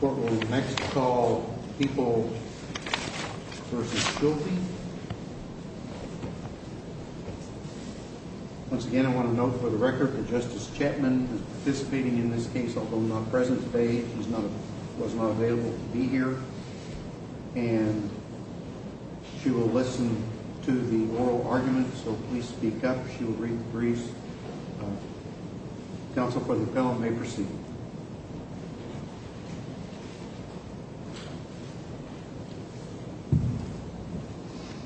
Court will next call Heeple v. Schulte. Once again, I want to note for the record that Justice Chapman is participating in this case, although not present today. She was not available to be here. And she will listen to the oral argument, so please speak up. She will read the briefs. Counsel for the panel may proceed.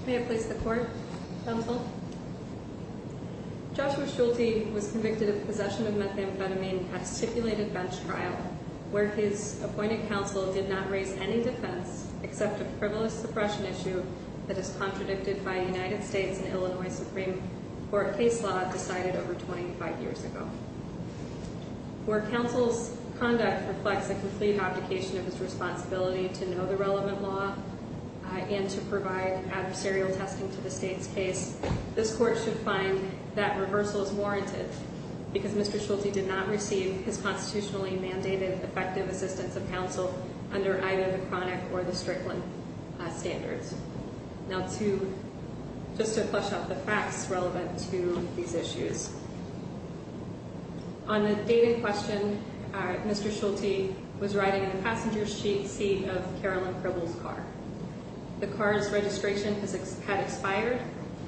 May I please the court? Counsel? Joshua Schulte was convicted of possession of methamphetamine at a stipulated bench trial, where his appointed counsel did not raise any defense except a frivolous suppression issue that is contradicted by a United States and Illinois Supreme Court case law decided over 25 years ago. Where counsel's conduct reflects a complete abdication of his responsibility to know the relevant law and to provide adversarial testing to the state's case, this court should find that reversal is warranted because Mr. Schulte did not receive his constitutionally mandated effective assistance of counsel under either the Chronic or the Strickland standards. Now, just to flush out the facts relevant to these issues, on the date in question, Mr. Schulte was riding in the passenger seat of Carolyn Pribble's car. The car's registration had expired,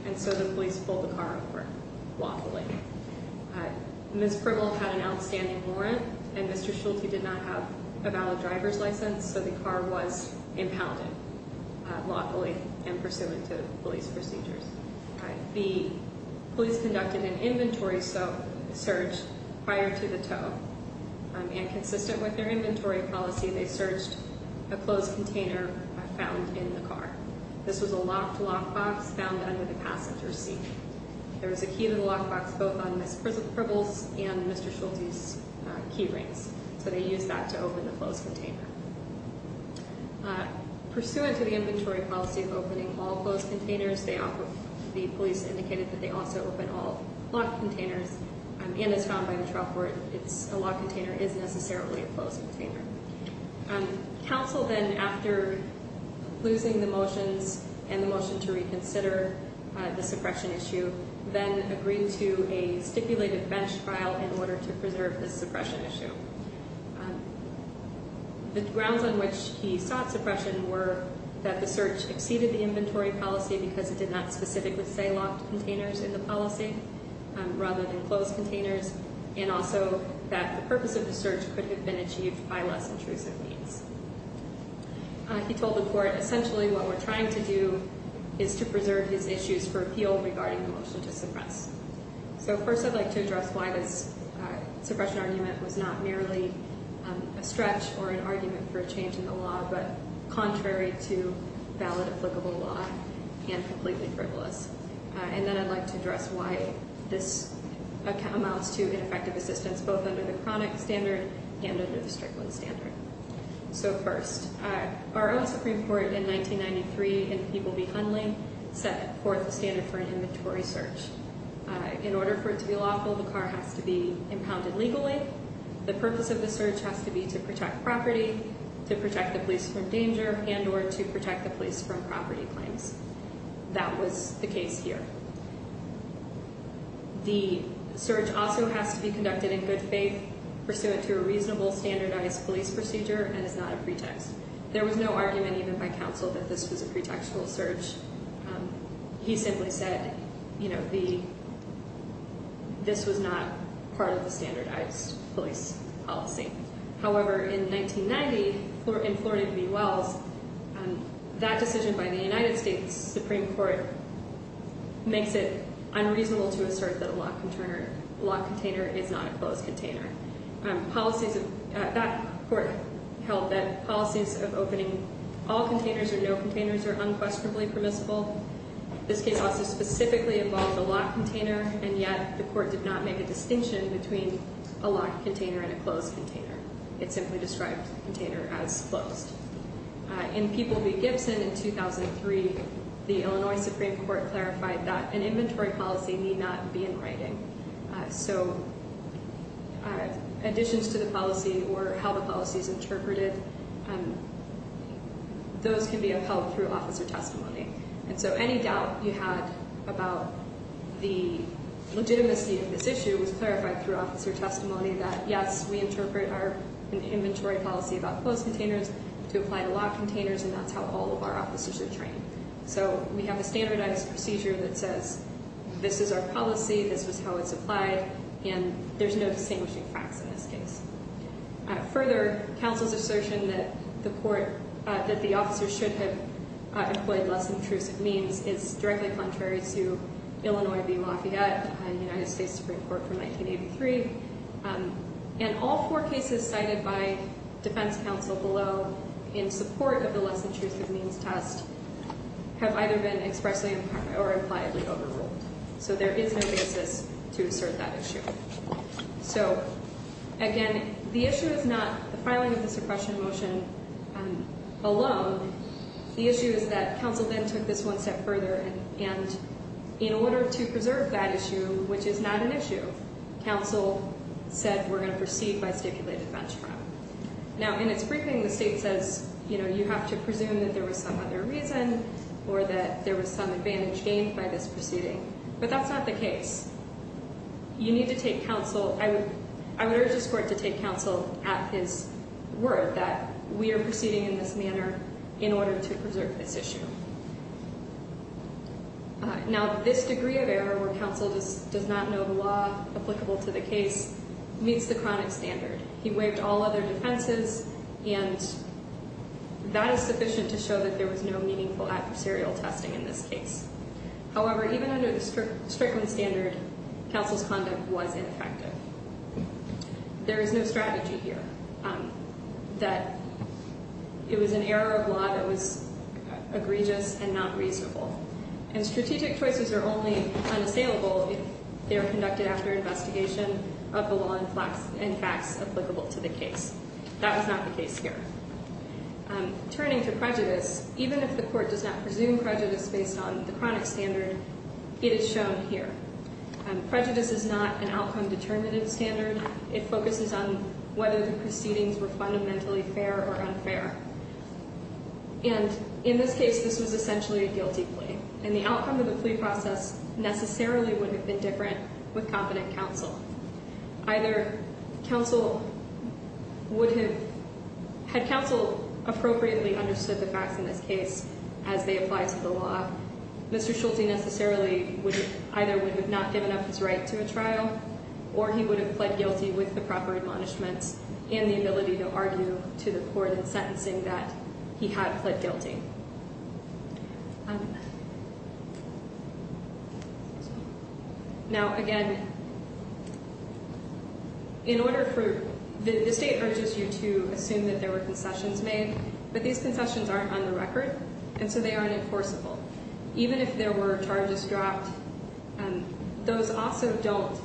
and so the police pulled the car over, waffling. Ms. Pribble had an outstanding warrant, and Mr. Schulte did not have a valid driver's license, so the car was impounded lawfully in pursuant to police procedures. The police conducted an inventory search prior to the tow, and consistent with their inventory policy, they searched a closed container found in the car. This was a locked lockbox found under the passenger seat. There was a key to the lockbox both on Ms. Pribble's and Mr. Schulte's key rings, so they used that to open the closed container. Pursuant to the inventory policy of opening all closed containers, the police indicated that they also open all locked containers, and as found by the trial court, a locked container isn't necessarily a closed container. Counsel then, after losing the motions and the motion to reconsider the suppression issue, then agreed to a stipulated bench trial in order to preserve the suppression issue. The grounds on which he sought suppression were that the search exceeded the inventory policy because it did not specifically say locked containers in the policy, rather than closed containers, and also that the purpose of the search could have been achieved by less intrusive means. He told the court, essentially what we're trying to do is to preserve his issues for appeal regarding the motion to suppress. So first I'd like to address why this suppression argument was not merely a stretch or an argument for a change in the law, but contrary to valid applicable law and completely frivolous. And then I'd like to address why this account amounts to ineffective assistance, both under the chronic standard and under the Strickland standard. So first, our own Supreme Court in 1993 in People v. Hundley set forth the standard for an inventory search. In order for it to be lawful, the car has to be impounded legally. The purpose of the search has to be to protect property, to protect the police from danger, and or to protect the police from property claims. That was the case here. The search also has to be conducted in good faith, pursuant to a reasonable standardized police procedure, and is not a pretext. There was no argument even by counsel that this was a pretextual search. He simply said, you know, this was not part of the standardized police policy. However, in 1990, in Florida v. Wells, that decision by the United States Supreme Court makes it unreasonable to assert that a locked container is not a closed container. That court held that policies of opening all containers or no containers are unquestionably permissible. This case also specifically involved a locked container, and yet the court did not make a distinction between a locked container and a closed container. It simply described the container as closed. In People v. Gibson in 2003, the Illinois Supreme Court clarified that an inventory policy need not be in writing. So additions to the policy or how the policy is interpreted, those can be upheld through officer testimony. And so any doubt you had about the legitimacy of this issue was clarified through officer testimony that, yes, we interpret our inventory policy about closed containers to apply to locked containers, and that's how all of our officers are trained. So we have a standardized procedure that says this is our policy, this is how it's applied, and there's no distinguishing facts in this case. Further, counsel's assertion that the court, that the officer should have employed less intrusive means is directly contrary to Illinois v. Lafayette and United States Supreme Court from 1983. And all four cases cited by defense counsel below in support of the less intrusive means test have either been expressly or impliedly overruled. So there is no basis to assert that issue. So, again, the issue is not the filing of the suppression motion alone. The issue is that counsel then took this one step further, and in order to preserve that issue, which is not an issue, counsel said we're going to proceed by stipulated bench crime. Now, in its briefing, the state says, you know, you have to presume that there was some other reason or that there was some advantage gained by this proceeding, but that's not the case. You need to take counsel, I would urge this court to take counsel at his word that we are proceeding in this manner in order to preserve this issue. Now, this degree of error where counsel does not know the law applicable to the case meets the chronic standard. He waived all other defenses, and that is sufficient to show that there was no meaningful adversarial testing in this case. However, even under the Strickland standard, counsel's conduct was ineffective. There is no strategy here that it was an error of law that was egregious and not reasonable. And strategic choices are only unassailable if they are conducted after investigation of the law and facts applicable to the case. That was not the case here. Turning to prejudice, even if the court does not presume prejudice based on the chronic standard, it is shown here. Prejudice is not an outcome-determinative standard. It focuses on whether the proceedings were fundamentally fair or unfair. And in this case, this was essentially a guilty plea, and the outcome of the plea process necessarily would have been different with competent counsel. Either counsel would have... Had counsel appropriately understood the facts in this case as they apply to the law, Mr. Schulte necessarily either would have not given up his right to a trial, or he would have pled guilty with the proper admonishments and the ability to argue to the court in sentencing that he had pled guilty. Now, again, in order for... The state urges you to assume that there were concessions made, but these concessions aren't on the record, and so they aren't enforceable. Even if there were charges dropped, those also don't...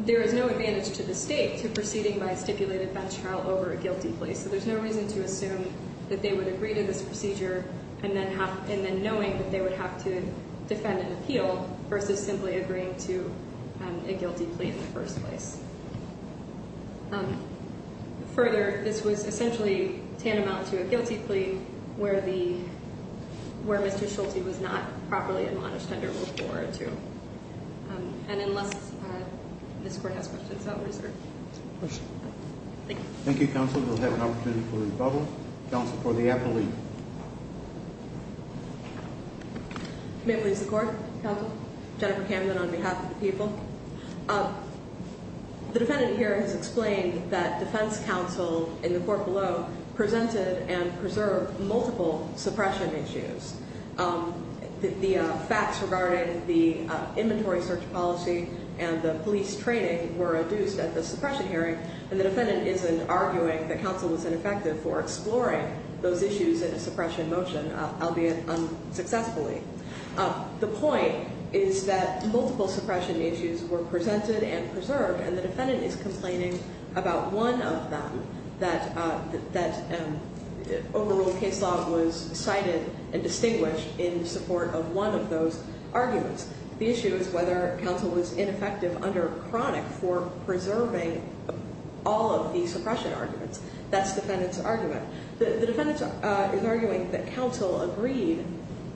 There is no advantage to the state to proceeding by a stipulated bench trial over a guilty plea, so there's no reason to assume that they would agree to this procedure, and then knowing that they would have to defend an appeal versus simply agreeing to a guilty plea in the first place. Further, this was essentially tantamount to a guilty plea where Mr. Schulte was not properly admonished under Rule 4 or 2. And unless this court has questions, I'll reserve. Thank you. Thank you, Counsel. We'll have an opportunity for rebuttal. Counsel for the appellee. May it please the Court, Counsel? Jennifer Camden on behalf of the people. The defendant here has explained that defense counsel in the court below presented and preserved multiple suppression issues. The facts regarding the inventory search policy and the police training were adduced at the suppression hearing, and the defendant isn't arguing that counsel was ineffective for exploring those issues in a suppression motion, albeit unsuccessfully. The point is that multiple suppression issues were presented and preserved, and the defendant is complaining about one of them, that overruled case law was cited and distinguished in support of one of those arguments. The issue is whether counsel was ineffective under chronic for preserving all of the suppression arguments. That's the defendant's argument. The defendant is arguing that counsel agreed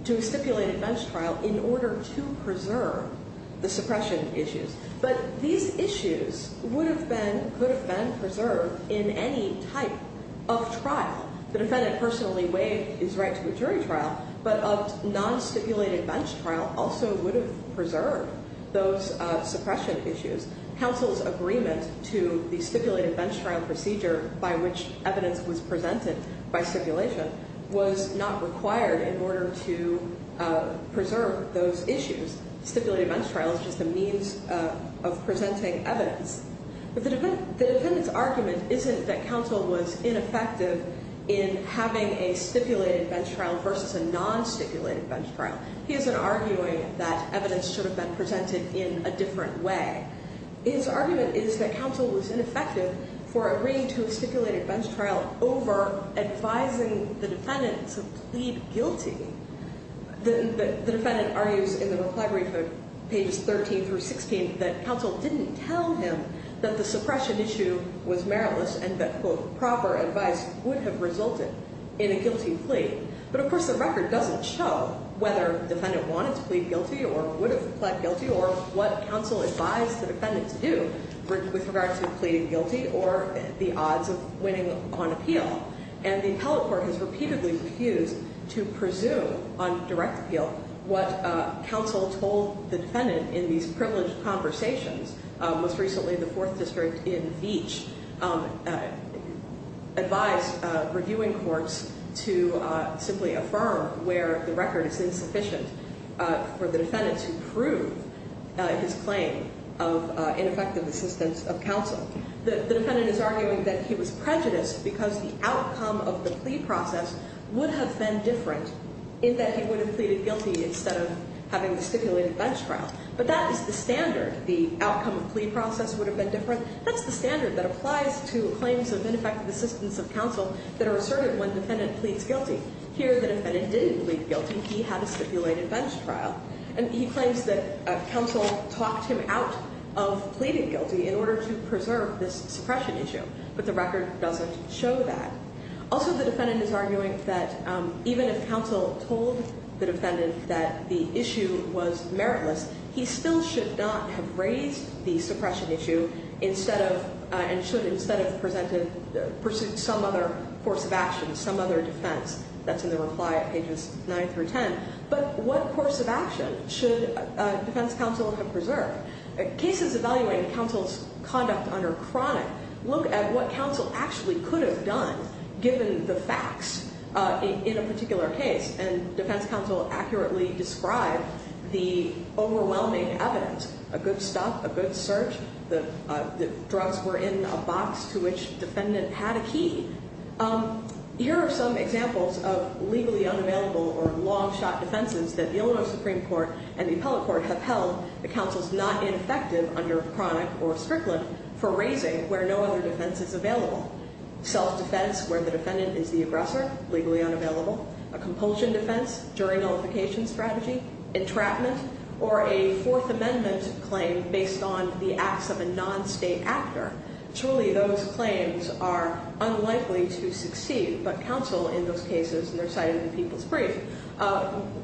to a stipulated bench trial in order to preserve the suppression issues. But these issues would have been, could have been preserved in any type of trial. The defendant personally waived his right to a jury trial, but a non-stipulated bench trial also would have preserved those suppression issues. Counsel's agreement to the stipulated bench trial procedure by which evidence was presented by stipulation was not required in order to preserve those issues. Stipulated bench trial is just a means of presenting evidence. The defendant's argument isn't that counsel was ineffective in having a stipulated bench trial versus a non-stipulated bench trial. He isn't arguing that evidence should have been presented in a different way. His argument is that counsel was ineffective for agreeing to a stipulated bench trial over advising the defendant to plead guilty. The defendant argues in the reply brief of pages 13 through 16 that counsel didn't tell him that the suppression issue was meritless and that, quote, proper advice would have resulted in a guilty plea. But, of course, the record doesn't show whether defendant wanted to plead guilty or would have pled guilty or what counsel advised the defendant to do with regards to pleading guilty or the odds of winning on appeal. And the appellate court has repeatedly refused to presume on direct appeal what counsel told the defendant in these privileged conversations. Most recently, the Fourth District in Veatch advised reviewing courts to simply affirm where the record is insufficient for the defendant to prove his claim of ineffective assistance of counsel. The defendant is arguing that he was prejudiced because the outcome of the plea process would have been different in that he would have pleaded guilty instead of having the stipulated bench trial. But that is the standard. The outcome of the plea process would have been different. That's the standard that applies to claims of ineffective assistance of counsel that are asserted when defendant pleads guilty. Here, the defendant didn't plead guilty. He had a stipulated bench trial. And he claims that counsel talked him out of pleading guilty in order to preserve this suppression issue. But the record doesn't show that. Also, the defendant is arguing that even if counsel told the defendant that the issue was meritless, he still should not have raised the suppression issue and should instead have presented some other course of action, some other defense. That's in the reply at pages 9 through 10. But what course of action should defense counsel have preserved? Cases evaluating counsel's conduct under chronic look at what counsel actually could have done given the facts in a particular case. And defense counsel accurately described the overwhelming evidence, a good stop, a good search, the drugs were in a box to which defendant had a key. Here are some examples of legally unavailable or long-shot defenses that the Illinois Supreme Court and the appellate court have held that counsel's not ineffective under chronic or strickland for raising where no other defense is available. Self-defense where the defendant is the aggressor, legally unavailable. A compulsion defense, jury nullification strategy. Entrapment. Or a Fourth Amendment claim based on the acts of a non-state actor. Truly, those claims are unlikely to succeed, but counsel in those cases, and they're cited in the people's brief,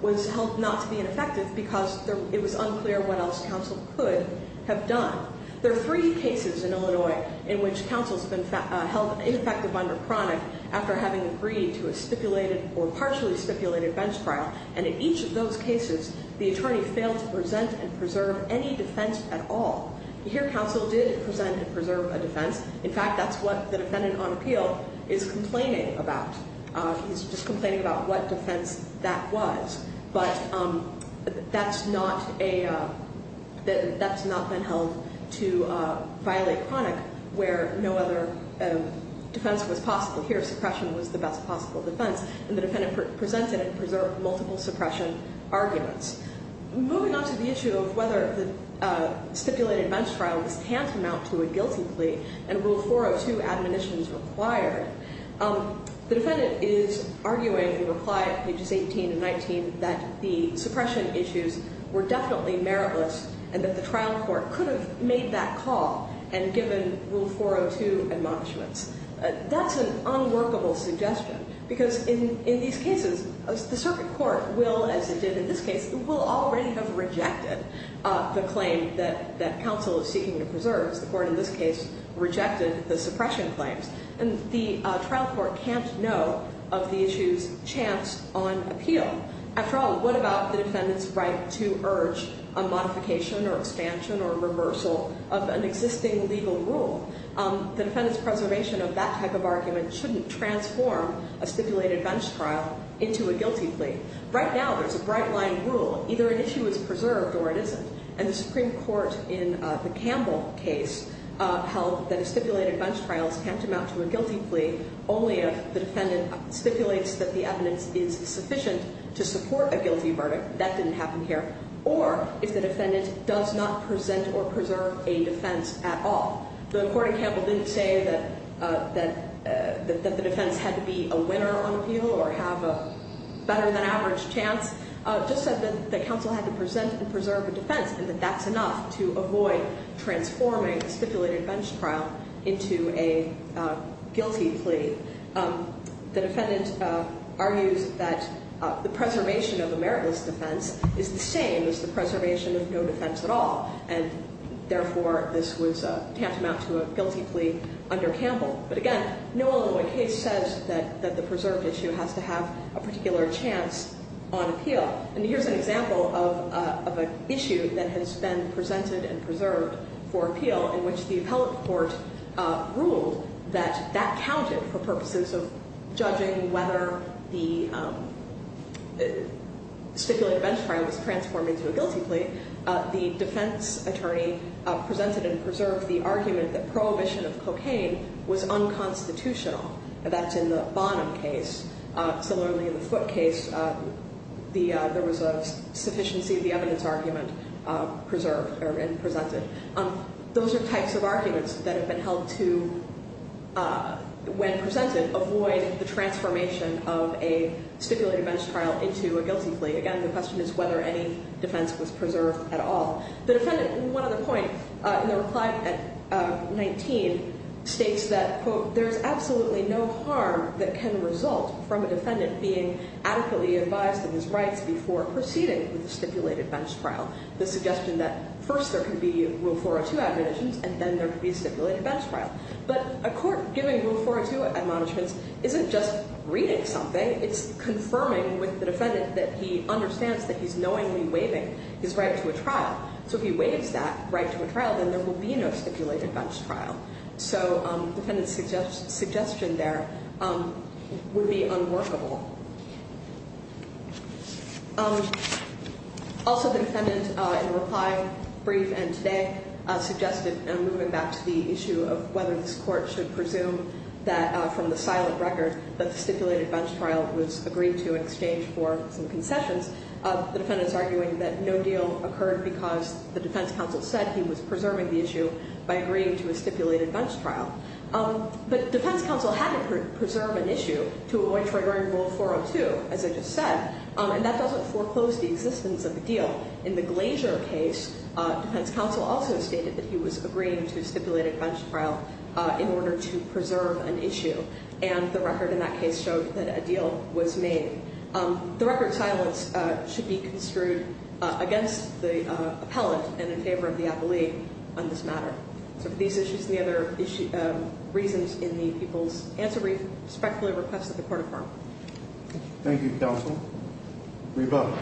was held not to be ineffective because it was unclear what else counsel could have done. There are three cases in Illinois in which counsel's been held ineffective under chronic after having agreed to a stipulated or partially stipulated bench trial. And in each of those cases, the attorney failed to present and preserve any defense at all. Here, counsel did present and preserve a defense. In fact, that's what the defendant on appeal is complaining about. He's just complaining about what defense that was. But that's not a, that's not been held to violate chronic where no other defense was possible. Here, suppression was the best possible defense. And the defendant presented and preserved multiple suppression arguments. Moving on to the issue of whether the stipulated bench trial was tantamount to a guilty plea and Rule 402 admonitions required. The defendant is arguing in reply at pages 18 and 19 that the suppression issues were definitely meritless and that the trial court could have made that call and given Rule 402 admonishments. That's an unworkable suggestion because in these cases, the circuit court will, as it did in this case, will already have rejected the claim that counsel is seeking to preserve. The court in this case rejected the suppression claims. And the trial court can't know of the issue's chance on appeal. After all, what about the defendant's right to urge a modification or expansion or reversal of an existing legal rule? The defendant's preservation of that type of argument shouldn't transform a stipulated bench trial into a guilty plea. Right now, there's a bright line rule. Either an issue is preserved or it isn't. And the Supreme Court in the Campbell case held that a stipulated bench trial is tantamount to a guilty plea only if the defendant stipulates that the evidence is sufficient to support a guilty verdict. That didn't happen here. Or if the defendant does not present or preserve a defense at all. The court in Campbell didn't say that the defense had to be a winner on appeal or have a better-than-average chance. It just said that counsel had to present and preserve a defense and that that's enough to avoid transforming a stipulated bench trial into a guilty plea. The defendant argues that the preservation of a meritless defense is the same as the preservation of no defense at all. And, therefore, this was tantamount to a guilty plea under Campbell. But, again, no Illinois case says that the preserved issue has to have a particular chance on appeal. And here's an example of an issue that has been presented and preserved for appeal in which the appellate court ruled that that counted for purposes of judging whether the stipulated bench trial was transformed into a guilty plea. The defense attorney presented and preserved the argument that prohibition of cocaine was unconstitutional. That's in the Bonham case. Similarly, in the Foote case, there was a sufficiency of the evidence argument preserved and presented. Those are types of arguments that have been held to, when presented, avoid the transformation of a stipulated bench trial into a guilty plea. Again, the question is whether any defense was preserved at all. The defendant, in one other point, in the reply at 19, states that, quote, there's absolutely no harm that can result from a defendant being adequately advised of his rights before proceeding with a stipulated bench trial. The suggestion that first there can be Rule 402 admonitions and then there can be a stipulated bench trial. But a court giving Rule 402 admonishments isn't just reading something. It's confirming with the defendant that he understands that he's knowingly waiving his right to a trial. So if he waives that right to a trial, then there will be no stipulated bench trial. So the defendant's suggestion there would be unworkable. Also, the defendant, in the reply brief and today, suggested, and I'm moving back to the issue of whether this court should presume that, from the silent record, that the stipulated bench trial was agreed to in exchange for some concessions. The defendant's arguing that no deal occurred because the defense counsel said he was preserving the issue by agreeing to a stipulated bench trial. But defense counsel had to preserve an issue to avoid triggering Rule 402, as I just said. And that doesn't foreclose the existence of the deal. In the Glazier case, defense counsel also stated that he was agreeing to a stipulated bench trial in order to preserve an issue. And the record in that case showed that a deal was made. The record silence should be construed against the appellant and in favor of the appellee on this matter. So for these issues and the other reasons in the people's answer brief, respectfully request that the court affirm. Thank you, counsel. Reba.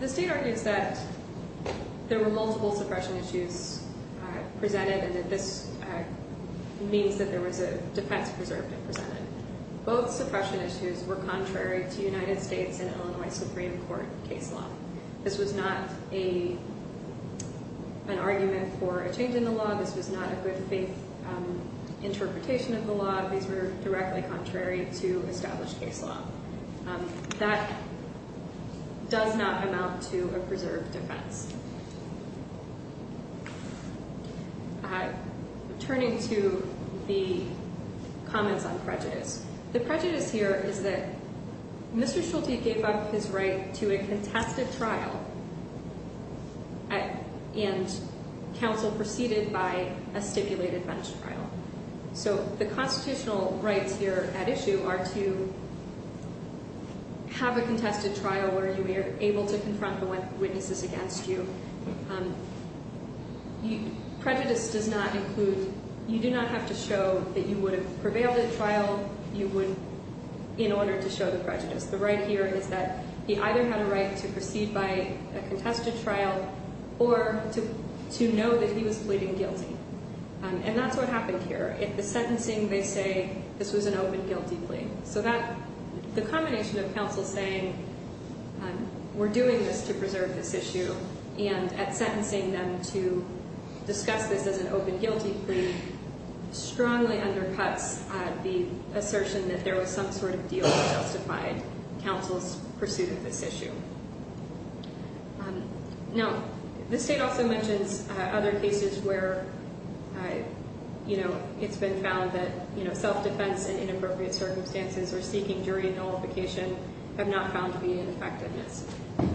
The state argues that there were multiple suppression issues presented and that this means that there was a defense preserved and presented. Both suppression issues were contrary to United States and Illinois Supreme Court case law. This was not an argument for a change in the law. This was not a good faith interpretation of the law. These were directly contrary to established case law. That does not amount to a preserved defense. Turning to the comments on prejudice. The prejudice here is that Mr. Schulte gave up his right to a contested trial and counsel proceeded by a stipulated bench trial. So the constitutional rights here at issue are to have a contested trial where you are able to confront the witnesses against you. Prejudice does not include, you do not have to show that you would have prevailed at a trial in order to show the prejudice. The right here is that he either had a right to proceed by a contested trial or to know that he was pleading guilty. And that's what happened here. At the sentencing they say this was an open guilty plea. So that, the combination of counsel saying we're doing this to preserve this issue and at sentencing them to discuss this as an open guilty plea strongly undercuts the assertion that there was some sort of deal that justified counsel's pursuit of this issue. Now, this state also mentions other cases where it's been found that self-defense in inappropriate circumstances or seeking jury nullification have not found to be an effectiveness.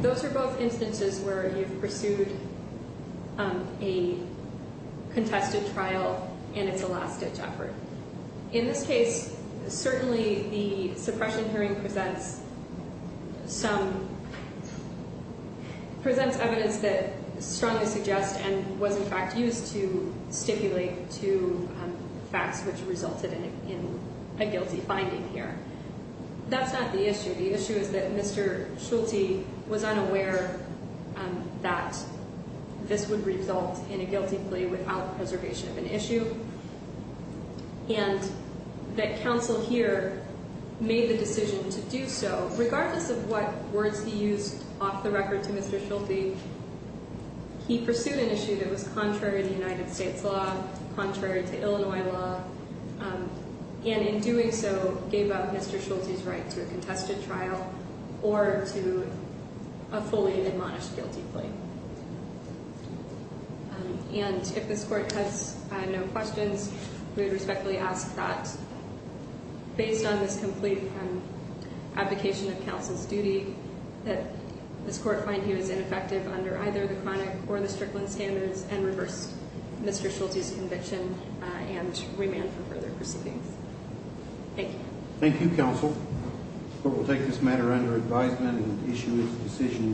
Those are both instances where you've pursued a contested trial and it's a last ditch effort. In this case, certainly the suppression hearing presents some, presents evidence that strongly suggests and was in fact used to stipulate to facts which resulted in a guilty finding here. That's not the issue. The issue is that Mr. Schulte was unaware that this would result in a guilty plea without preservation of an issue. And that counsel here made the decision to do so. Regardless of what words he used off the record to Mr. Schulte, he pursued an issue that was contrary to United States law, contrary to Illinois law. And in doing so, gave up Mr. Schulte's right to a contested trial or to a fully admonished guilty plea. And if this court has no questions, we would respectfully ask that, based on this complete abdication of counsel's duty, that this court find he was ineffective under either the chronic or the strickland standards and reverse Mr. Schulte's conviction and remand for further proceedings. Thank you. Thank you, counsel. The court will take this matter under advisement and issue its decision.